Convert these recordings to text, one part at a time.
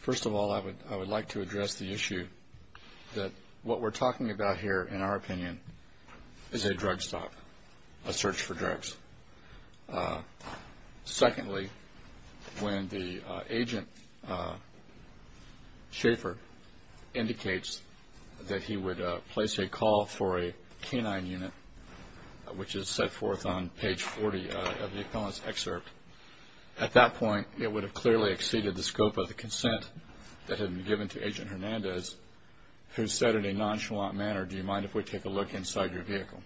First of all, I would like to address the issue that what we're talking about here, in our opinion, is a drug stop, a search for drugs. Secondly, when the agent, Schaeffer, indicates that he would place a call for a K-9 unit, which is set forth on page 40 of the appellant's excerpt, at that point, it would have clearly exceeded the scope of the consent that had been given to Agent Hernandez, who said in a nonchalant manner, do you mind if we take a look inside your vehicle?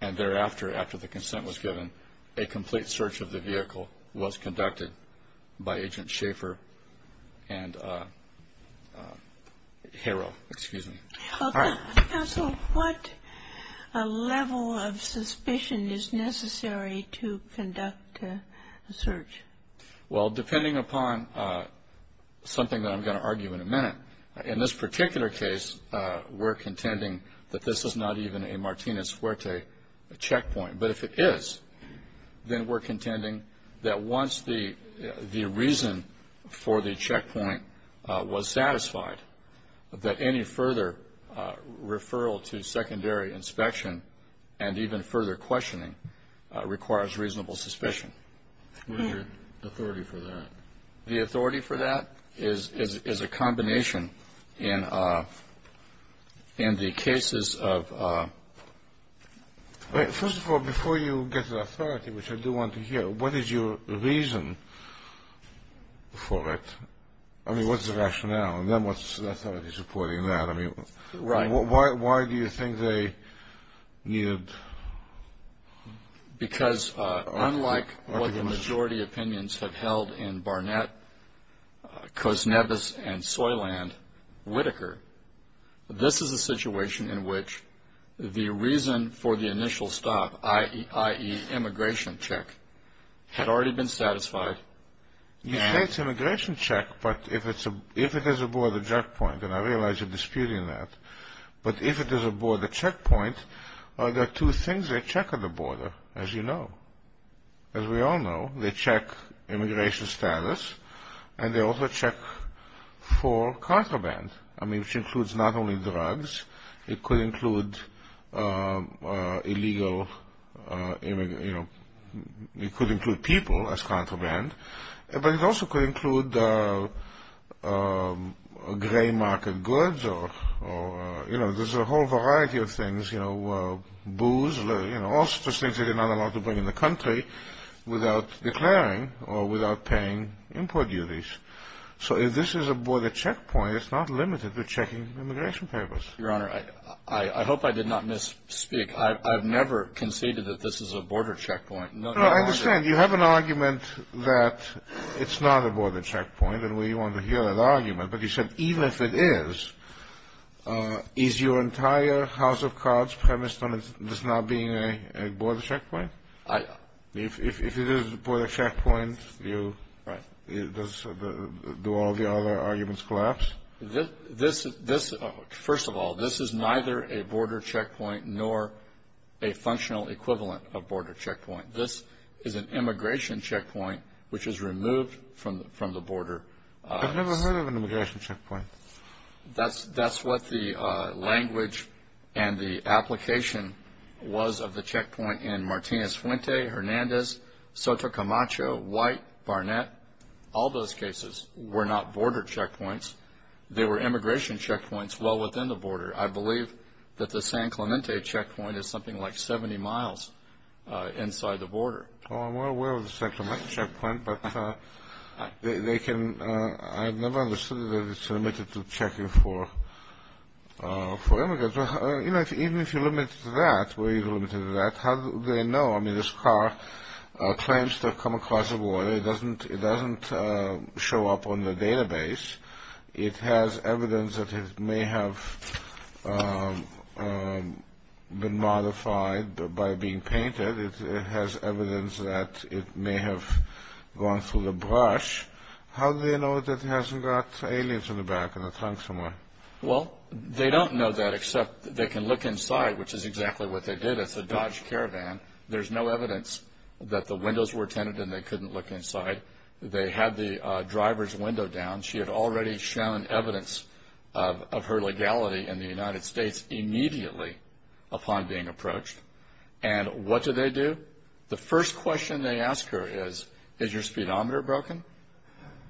And thereafter, after the consent was given, a complete search of the vehicle was conducted by Agent Schaeffer and Harrell. Excuse me. All right. MS. MOTT GOTTLIEB Counsel, what level of suspicion is necessary to conduct a search? ATTORNEY GENERAL ROBERTS Well, depending upon something that I'm going to argue in a minute, in this particular case, we're contending that this is not even a Martinez-Fuerte checkpoint. But if it is, then we're contending that once the reason for the checkpoint was satisfied, that any further referral to secondary inspection and even further questioning requires reasonable suspicion. MS. MOTT GOTTLIEB What is your authority for that? ATTORNEY GENERAL ROBERTS The authority for that is a combination in the cases of ---- MS. MOTT GOTTLIEB First of all, before you get the authority, which I do want to hear, what is your reason for it? I mean, what's the rationale? And then what's the authority supporting that? I mean, why do you think they needed ---- ATTORNEY GENERAL ROBERTS Because unlike what the majority opinions have held in Barnett, Kosnevis, and Soyland, Whitaker, this is a situation in which the reason for the initial stop, i.e., immigration check, had already been satisfied and ---- MS. MOTT GOTTLIEB You say it's immigration check, but if it is a border checkpoint, and I realize you're disputing that, but if it is a border checkpoint, there are two things they check at the border, as you know. As we all know, they check immigration status, and they also check for contraband, which includes not only drugs, it could include people as contraband, but it also could include gray market goods or, you know, there's a whole variety of things, you know, booze, all sorts of things they're not allowed to bring in the country without declaring or without paying import duties. So if this is a border checkpoint, it's not limited to checking immigration papers. ATTORNEY GENERAL ROBERTS Your Honor, I hope I did not misspeak. I've never conceded that this is a border checkpoint. No, I understand. You have an argument that it's not a border checkpoint, and we want to hear that argument. But you said even if it is, is your entire House of Cards premise on this not being a border checkpoint? If it is a border checkpoint, do all the other arguments collapse? ATTORNEY GENERAL ROBERTS First of all, this is neither a border checkpoint nor a functional equivalent of border checkpoint. This is an immigration checkpoint, which is removed from the border. I've never heard of an immigration checkpoint. That's what the language and the application was of the checkpoint in Martinez-Fuente, Hernandez, Soto Camacho, White, Barnett. All those cases were not border checkpoints. I believe that the San Clemente checkpoint is something like 70 miles inside the border. I'm more aware of the San Clemente checkpoint, but I've never understood that it's limited to checking for immigrants. Even if you limit it to that, how do they know? This car claims to have come across the border. It doesn't show up on the database. It has evidence that it may have been modified by being painted. It has evidence that it may have gone through the brush. How do they know that it hasn't got aliens in the back and a trunk somewhere? ATTORNEY GENERAL ROBERTS Well, they don't know that except they can look inside, which is exactly what they did. It's a Dodge Caravan. There's no evidence that the windows were tinted and they couldn't look inside. They had the driver's window down. She had already shown evidence of her legality in the United States immediately upon being approached. And what do they do? The first question they ask her is, is your speedometer broken,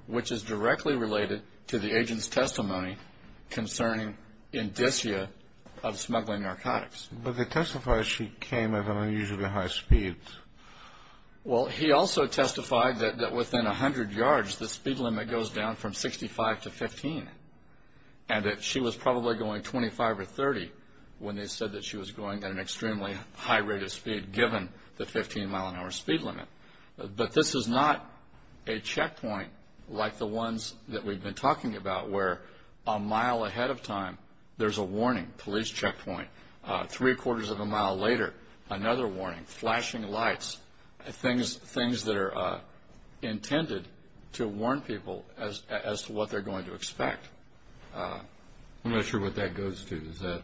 which is directly related to the agent's testimony concerning indicia of smuggling narcotics. But they testified she came at an unusually high speed. Well, he also testified that within 100 yards the speed limit goes down from 65 to 15 and that she was probably going 25 or 30 when they said that she was going at an extremely high rate of speed given the 15 mile an hour speed limit. But this is not a checkpoint like the ones that we've been talking about where a mile ahead of time there's a warning, police checkpoint. Three quarters of a mile later, another warning, flashing lights, things that are intended to warn people as to what they're going to expect. I'm not sure what that goes to.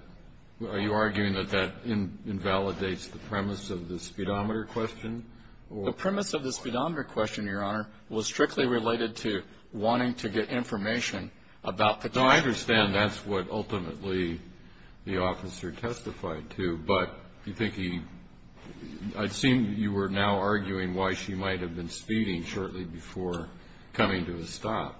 Are you arguing that that invalidates the premise of the speedometer question? The premise of the speedometer question, Your Honor, was strictly related to wanting to get information about the driver. I understand that's what ultimately the officer testified to. But you think he – I'd assume you were now arguing why she might have been speeding shortly before coming to a stop.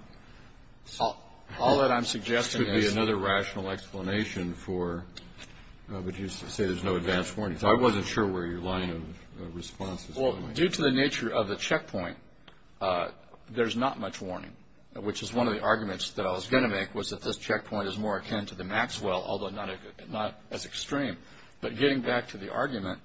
All that I'm suggesting is – This could be another rational explanation for – but you say there's no advance warning. So I wasn't sure where your line of response was coming from. Well, due to the nature of the checkpoint, there's not much warning, which is one of the arguments that I was going to make, was that this checkpoint is more akin to the Maxwell, although not as extreme. But getting back to the argument,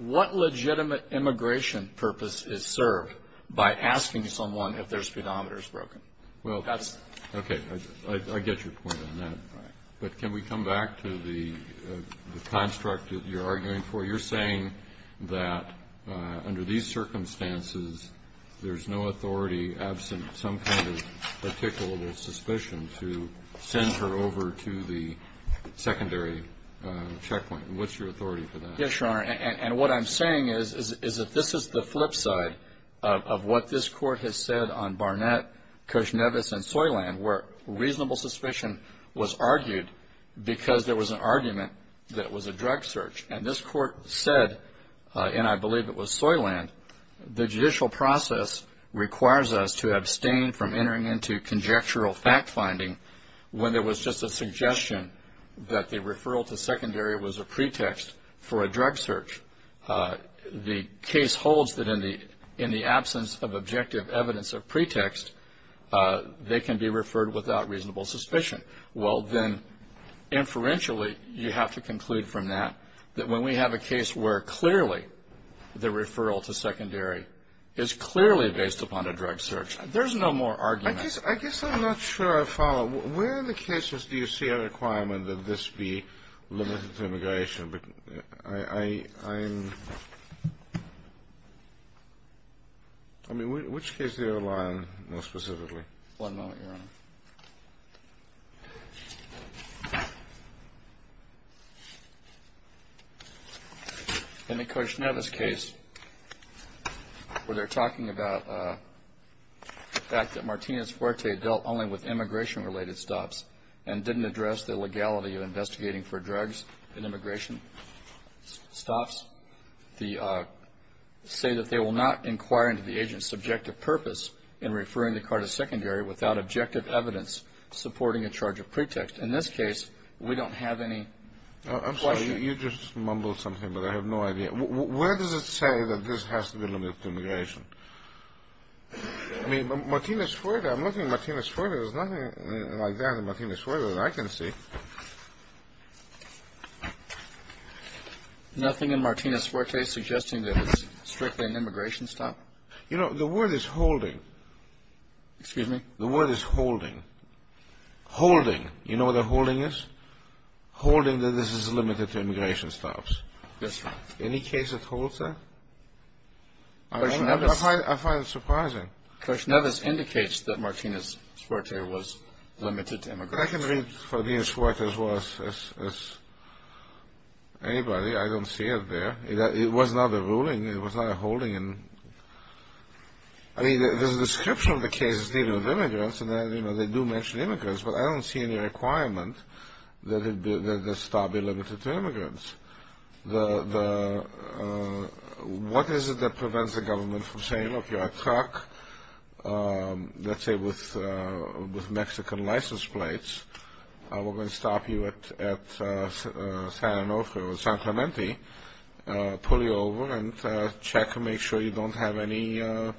what legitimate immigration purpose is served by asking someone if their speedometer is broken? Okay, I get your point on that. But can we come back to the construct that you're arguing for? You're saying that under these circumstances, there's no authority absent some kind of particular suspicion to send her over to the secondary checkpoint. What's your authority for that? Yes, Your Honor. And what I'm saying is that this is the flip side of what this Court has said on Barnett, Kushnevis, and Soyland, where reasonable suspicion was argued because there was an argument that was a drug search. And this Court said, and I believe it was Soyland, the judicial process requires us to abstain from entering into conjectural fact-finding when there was just a suggestion that the referral to secondary was a pretext for a drug search. The case holds that in the absence of objective evidence of pretext, they can be referred without reasonable suspicion. Well, then, inferentially, you have to conclude from that that when we have a case where clearly the referral to secondary is clearly based upon a drug search, there's no more argument. I guess I'm not sure I follow. Where in the cases do you see a requirement that this be limited to immigration? I mean, which case do you rely on most specifically? One moment, Your Honor. In the Kushnevis case, where they're talking about the fact that Martinez-Fuerte dealt only with immigration-related stops and didn't address the legality of investigating for drugs in immigration stops, they say that they will not inquire into the agent's subjective purpose in referring the card of secondary without objective evidence supporting a charge of pretext. In this case, we don't have any question. I'm sorry. You just mumbled something, but I have no idea. Where does it say that this has to be limited to immigration? I mean, Martinez-Fuerte. I'm looking at Martinez-Fuerte. There's nothing like that in Martinez-Fuerte that I can see. Nothing in Martinez-Fuerte suggesting that it's strictly an immigration stop? You know, the word is holding. Excuse me? The word is holding. Holding. You know what a holding is? Holding that this is limited to immigration stops. Yes, Your Honor. Any case that holds that? I find it surprising. Kushnevis indicates that Martinez-Fuerte was limited to immigration. I can read Martinez-Fuerte as well as anybody. I don't see it there. It was not a ruling. It was not a holding. I mean, there's a description of the case dealing with immigrants, and they do mention immigrants, but I don't see any requirement that the stop be limited to immigrants. What is it that prevents the government from saying, look, you're a truck, let's say, with Mexican license plates, we're going to stop you at San Onofre or San Clemente, pull you over and check and make sure you don't have any, I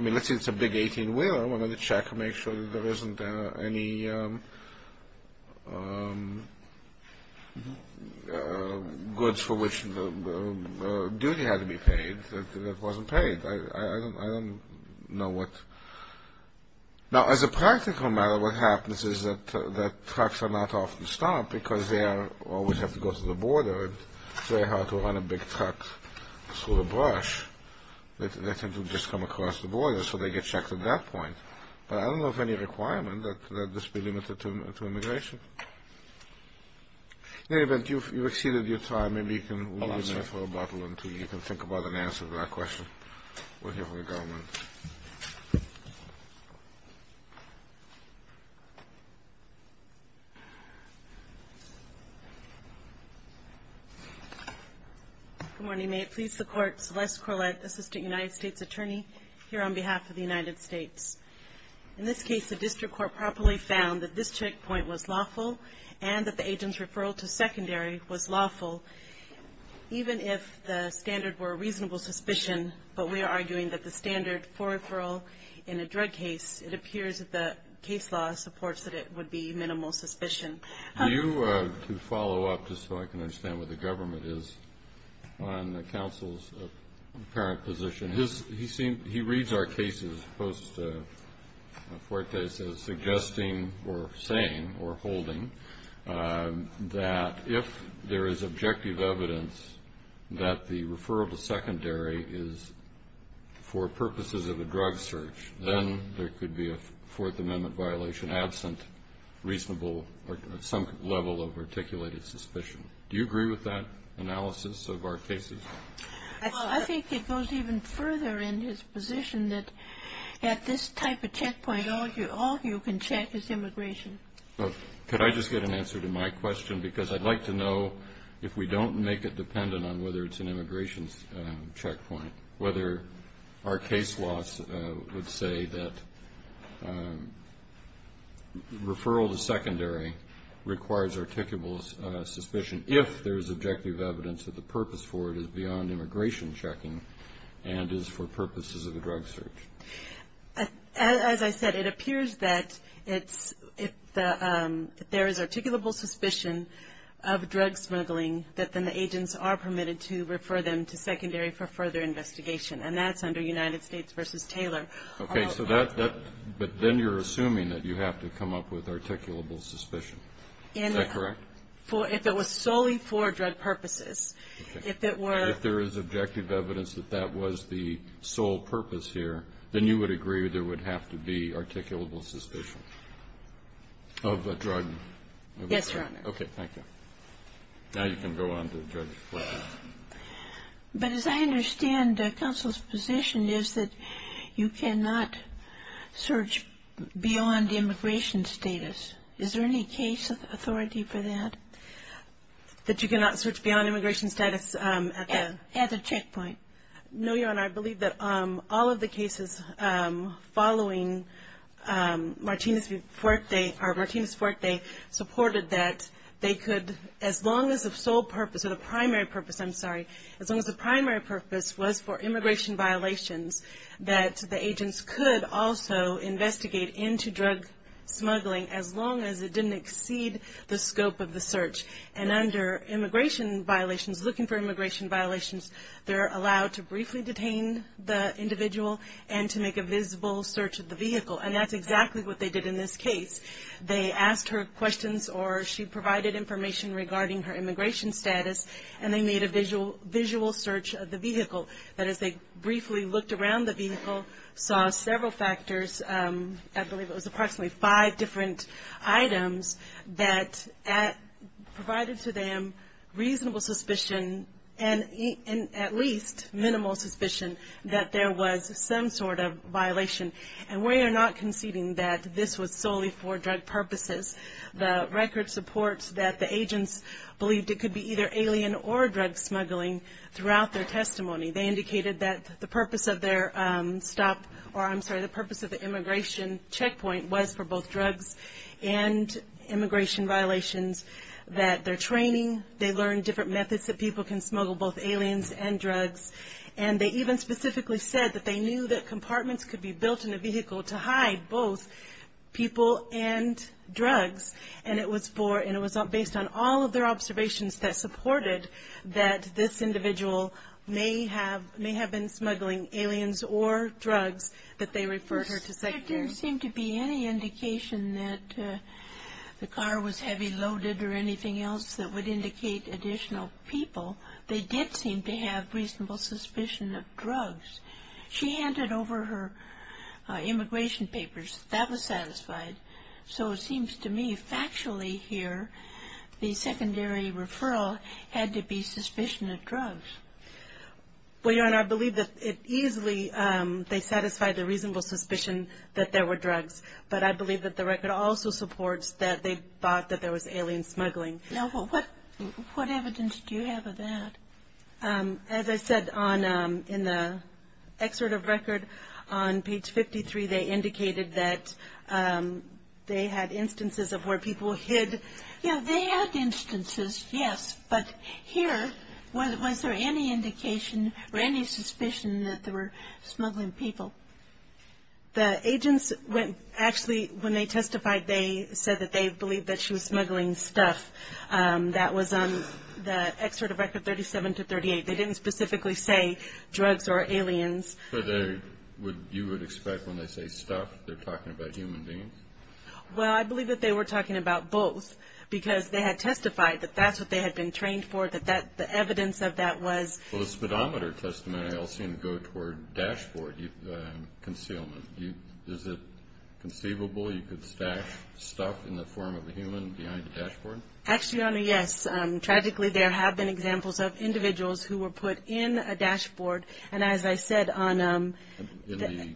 mean, let's say it's a big 18-wheeler, we're going to check and make sure that there isn't any goods for which the duty had to be paid that wasn't paid. I don't know what. Now, as a practical matter, what happens is that trucks are not often stopped because they always have to go to the border, and it's very hard to run a big truck through the brush. They tend to just come across the border, so they get checked at that point. But I don't know of any requirement that this be limited to immigration. In any event, you've exceeded your time. Maybe you can leave me for a bottle or two. Maybe you can think about an answer to that question. We'll hear from the government. Good morning. May it please the Court, Celeste Corlett, Assistant United States Attorney, here on behalf of the United States. In this case, the district court properly found that this checkpoint was lawful and that the agent's referral to secondary was lawful, even if the standard were reasonable suspicion. But we are arguing that the standard for referral in a drug case, it appears that the case law supports that it would be minimal suspicion. Do you, to follow up, just so I can understand what the government is, on the counsel's apparent position, he reads our cases, suggesting or saying or holding that if there is objective evidence that the referral to secondary is for purposes of a drug search, then there could be a Fourth Amendment violation absent reasonable or some level of articulated suspicion. Do you agree with that analysis of our cases? I think it goes even further in his position that at this type of checkpoint, all you can check is immigration. Could I just get an answer to my question? Because I'd like to know if we don't make it dependent on whether it's an immigration checkpoint, whether our case laws would say that referral to secondary requires articulable suspicion if there is objective evidence that the purpose for it is beyond immigration checking and is for purposes of a drug search. As I said, it appears that if there is articulable suspicion of drug smuggling, that then the agents are permitted to refer them to secondary for further investigation. And that's under United States v. Taylor. Okay. But then you're assuming that you have to come up with articulable suspicion. Is that correct? If it was solely for drug purposes. If it were. If there is objective evidence that that was the sole purpose here, then you would agree there would have to be articulable suspicion of a drug? Yes, Your Honor. Okay. Thank you. Now you can go on to Judge Flanagan. But as I understand counsel's position is that you cannot search beyond immigration status. Is there any case authority for that? That you cannot search beyond immigration status? At a checkpoint. No, Your Honor. I believe that all of the cases following Martinez-Fuerte supported that they could, as long as the sole purpose or the primary purpose, I'm sorry, as long as the primary purpose was for immigration violations, that the agents could also investigate into drug smuggling, as long as it didn't exceed the scope of the search. And under immigration violations, looking for immigration violations, they're allowed to briefly detain the individual and to make a visible search of the vehicle. And that's exactly what they did in this case. They asked her questions or she provided information regarding her immigration status, and they made a visual search of the vehicle. And as they briefly looked around the vehicle, saw several factors, I believe it was approximately five different items that provided to them reasonable suspicion and at least minimal suspicion that there was some sort of violation. And we are not conceding that this was solely for drug purposes. The record supports that the agents believed it could be either alien or drug smuggling throughout their testimony. They indicated that the purpose of their stop, or I'm sorry, the purpose of the immigration checkpoint was for both drugs and immigration violations, that their training, they learned different methods that people can smuggle both aliens and drugs. And they even specifically said that they knew that compartments could be built in a vehicle to hide both people and drugs. And it was based on all of their observations that supported that this individual may have been smuggling aliens or drugs that they referred her to Secretary. There didn't seem to be any indication that the car was heavy loaded or anything else that would indicate additional people. They did seem to have reasonable suspicion of drugs. She handed over her immigration papers. That was satisfied. So it seems to me factually here, the secondary referral had to be suspicion of drugs. Well, Your Honor, I believe that it easily, they satisfied the reasonable suspicion that there were drugs. But I believe that the record also supports that they thought that there was alien smuggling. Now, what evidence do you have of that? As I said, in the excerpt of record on page 53, they indicated that they had instances of where people hid. Yeah, they had instances, yes. But here, was there any indication or any suspicion that there were smuggling people? The agents actually, when they testified, they said that they believed that she was smuggling stuff. That was on the excerpt of record 37 to 38. They didn't specifically say drugs or aliens. But you would expect when they say stuff, they're talking about human beings? Well, I believe that they were talking about both, because they had testified that that's what they had been trained for, that the evidence of that was. Well, the speedometer testimony I also seem to go toward dashboard concealment. Is it conceivable you could stash stuff in the form of a human behind a dashboard? Actually, Your Honor, yes. Tragically, there have been examples of individuals who were put in a dashboard. And as I said on the-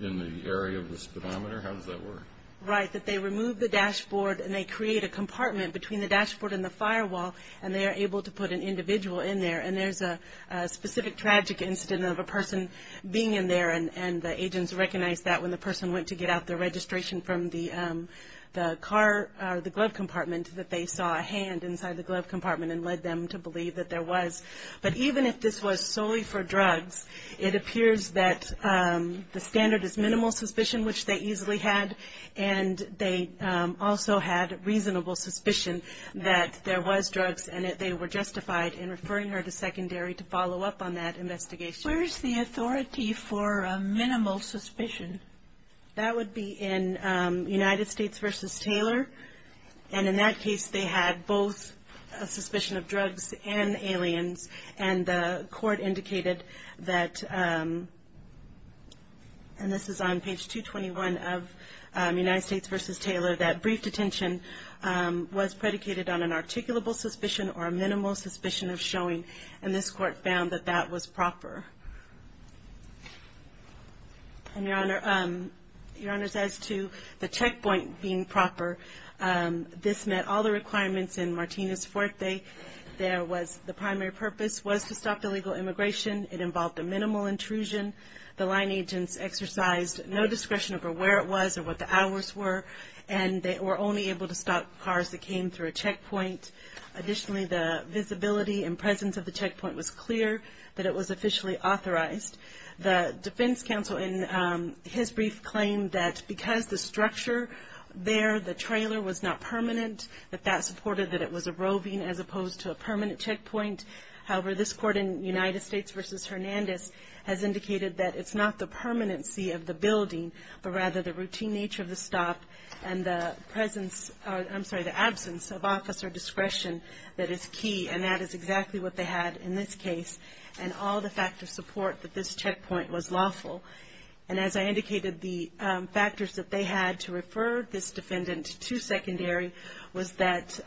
In the area of the speedometer? How does that work? Right, that they remove the dashboard, and they create a compartment between the dashboard and the firewall, and they are able to put an individual in there. And there's a specific tragic incident of a person being in there, and the agents recognized that when the person went to get out the registration from the car, the glove compartment, that they saw a hand inside the glove compartment and led them to believe that there was. But even if this was solely for drugs, it appears that the standard is minimal suspicion, which they easily had. And they also had reasonable suspicion that there was drugs in it. They were justified in referring her to secondary to follow up on that investigation. Where is the authority for minimal suspicion? That would be in United States v. Taylor. And in that case, they had both a suspicion of drugs and aliens. And the court indicated that, and this is on page 221 of United States v. Taylor, that brief detention was predicated on an articulable suspicion or a minimal suspicion of showing. And this court found that that was proper. And, Your Honor, as to the checkpoint being proper, this met all the requirements in Martinez-Fuerte. The primary purpose was to stop illegal immigration. It involved a minimal intrusion. The line agents exercised no discretion over where it was or what the hours were, and they were only able to stop cars that came through a checkpoint. Additionally, the visibility and presence of the checkpoint was clear that it was officially authorized. The defense counsel in his brief claimed that because the structure there, the trailer, was not permanent, that that supported that it was a roving as opposed to a permanent checkpoint. However, this court in United States v. Hernandez has indicated that it's not the permanency of the building, but rather the routine nature of the stop and the absence of officer discretion that is key. And that is exactly what they had in this case, and all the factors support that this checkpoint was lawful. And as I indicated, the factors that they had to refer this defendant to secondary was that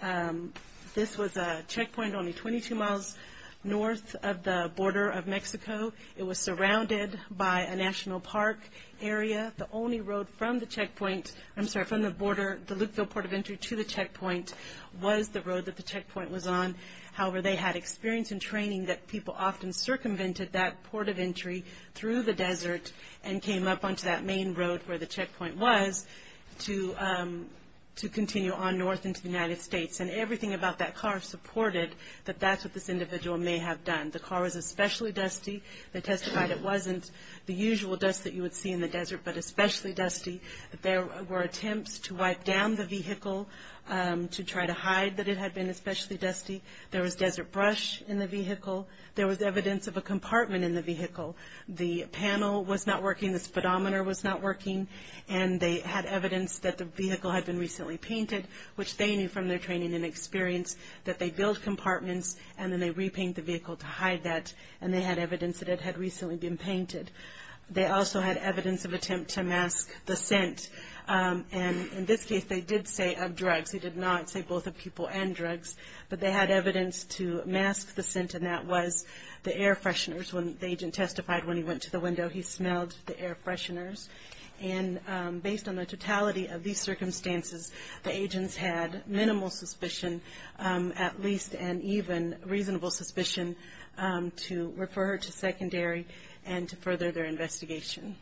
this was a checkpoint only 22 miles north of the border of Mexico. It was surrounded by a national park area. The only road from the checkpoint, I'm sorry, from the border, the Lukeville Port of Entry, to the checkpoint was the road that the checkpoint was on. However, they had experience and training that people often circumvented that port of entry through the desert and came up onto that main road where the checkpoint was to continue on north into the United States. And everything about that car supported that that's what this individual may have done. The car was especially dusty. They testified it wasn't the usual dust that you would see in the desert, but especially dusty. There were attempts to wipe down the vehicle to try to hide that it had been especially dusty. There was desert brush in the vehicle. There was evidence of a compartment in the vehicle. The panel was not working, the speedometer was not working, and they had evidence that the vehicle had been recently painted, which they knew from their training and experience that they built compartments, and then they repaint the vehicle to hide that, and they had evidence that it had recently been painted. They also had evidence of attempt to mask the scent. And in this case, they did say of drugs. They did not say both of people and drugs, but they had evidence to mask the scent, and that was the air fresheners. When the agent testified when he went to the window, he smelled the air fresheners. And based on the totality of these circumstances, the agents had minimal suspicion, at least and even reasonable suspicion to refer her to secondary and to further their investigation.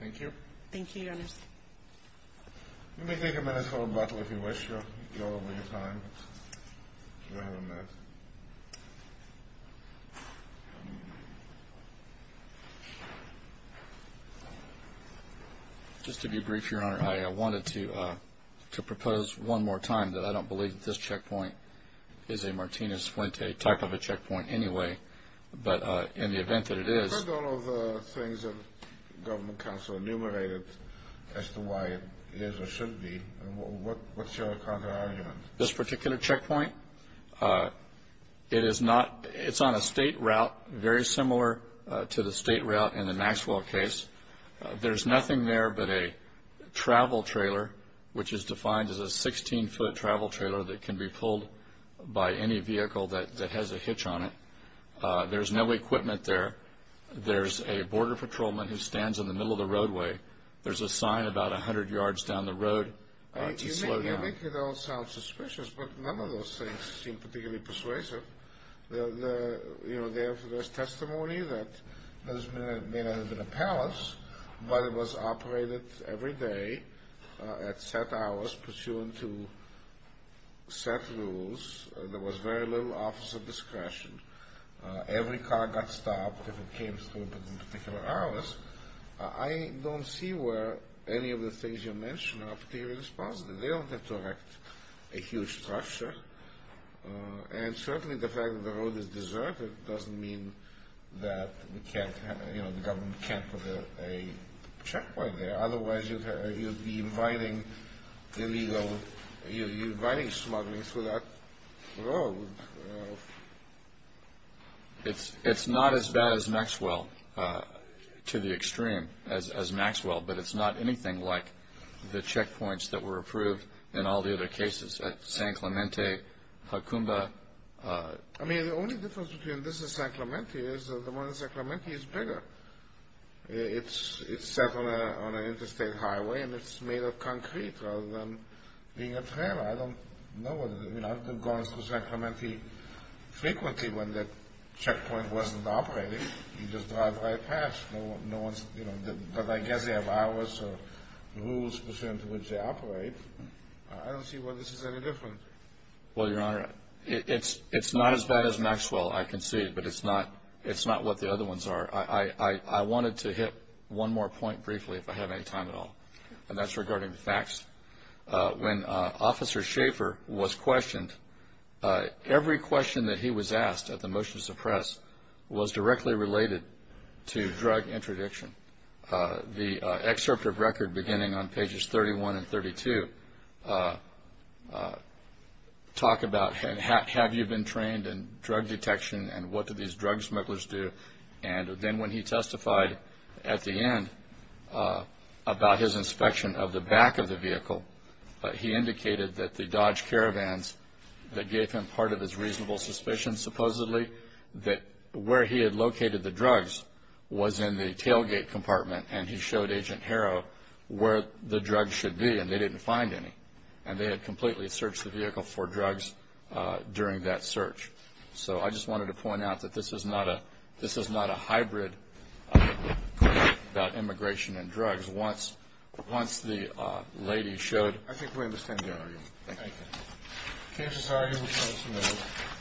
Thank you. Thank you, Your Honor. Let me take a minute for rebuttal if you wish to go over your time. If you have a minute. Just to be brief, Your Honor, I wanted to propose one more time that I don't believe that this checkpoint is a Martinez-Fuente type of a checkpoint anyway, but in the event that it is. I've heard all of the things that the government counsel enumerated as to why it is or should be. What's your counterargument? This particular checkpoint, it's on a state route, very similar to the state route in the Maxwell case. There's nothing there but a travel trailer, which is defined as a 16-foot travel trailer that can be pulled by any vehicle that has a hitch on it. There's no equipment there. There's a border patrolman who stands in the middle of the roadway. There's a sign about 100 yards down the road to slow down. You make it all sound suspicious, but none of those things seem particularly persuasive. There's testimony that there may not have been a palace, but it was operated every day at set hours, pursuant to set rules. There was very little office of discretion. Every car got stopped if it came to a particular hour. I don't see where any of the things you mentioned are particularly responsive. They don't have to erect a huge structure, and certainly the fact that the road is deserted doesn't mean that the government can't put a checkpoint there. Otherwise, you'd be inviting smuggling through that road. It's not as bad as Maxwell, to the extreme, as Maxwell, but it's not anything like the checkpoints that were approved in all the other cases, at San Clemente, Hacumba. I mean, the only difference between this and San Clemente is that the one in San Clemente is bigger. It's set on an interstate highway, and it's made of concrete rather than being a trailer. I don't know. I've gone to San Clemente frequently when that checkpoint wasn't operating. You just drive right past. But I guess they have hours or rules pursuant to which they operate. I don't see why this is any different. Well, Your Honor, it's not as bad as Maxwell, I concede, but it's not what the other ones are. I wanted to hit one more point briefly, if I have any time at all, and that's regarding the facts. When Officer Schaefer was questioned, every question that he was asked at the motion to suppress was directly related to drug interdiction. The excerpt of record beginning on pages 31 and 32 talk about, have you been trained in drug detection and what do these drug smugglers do? And then when he testified at the end about his inspection of the back of the vehicle, he indicated that the Dodge Caravans that gave him part of his reasonable suspicion, supposedly, that where he had located the drugs was in the tailgate compartment, and he showed Agent Harrow where the drugs should be, and they didn't find any. And they had completely searched the vehicle for drugs during that search. So I just wanted to point out that this is not a hybrid question about immigration and drugs. Once the lady showed – I think we understand the argument. Thank you. The case is argued in front of some members.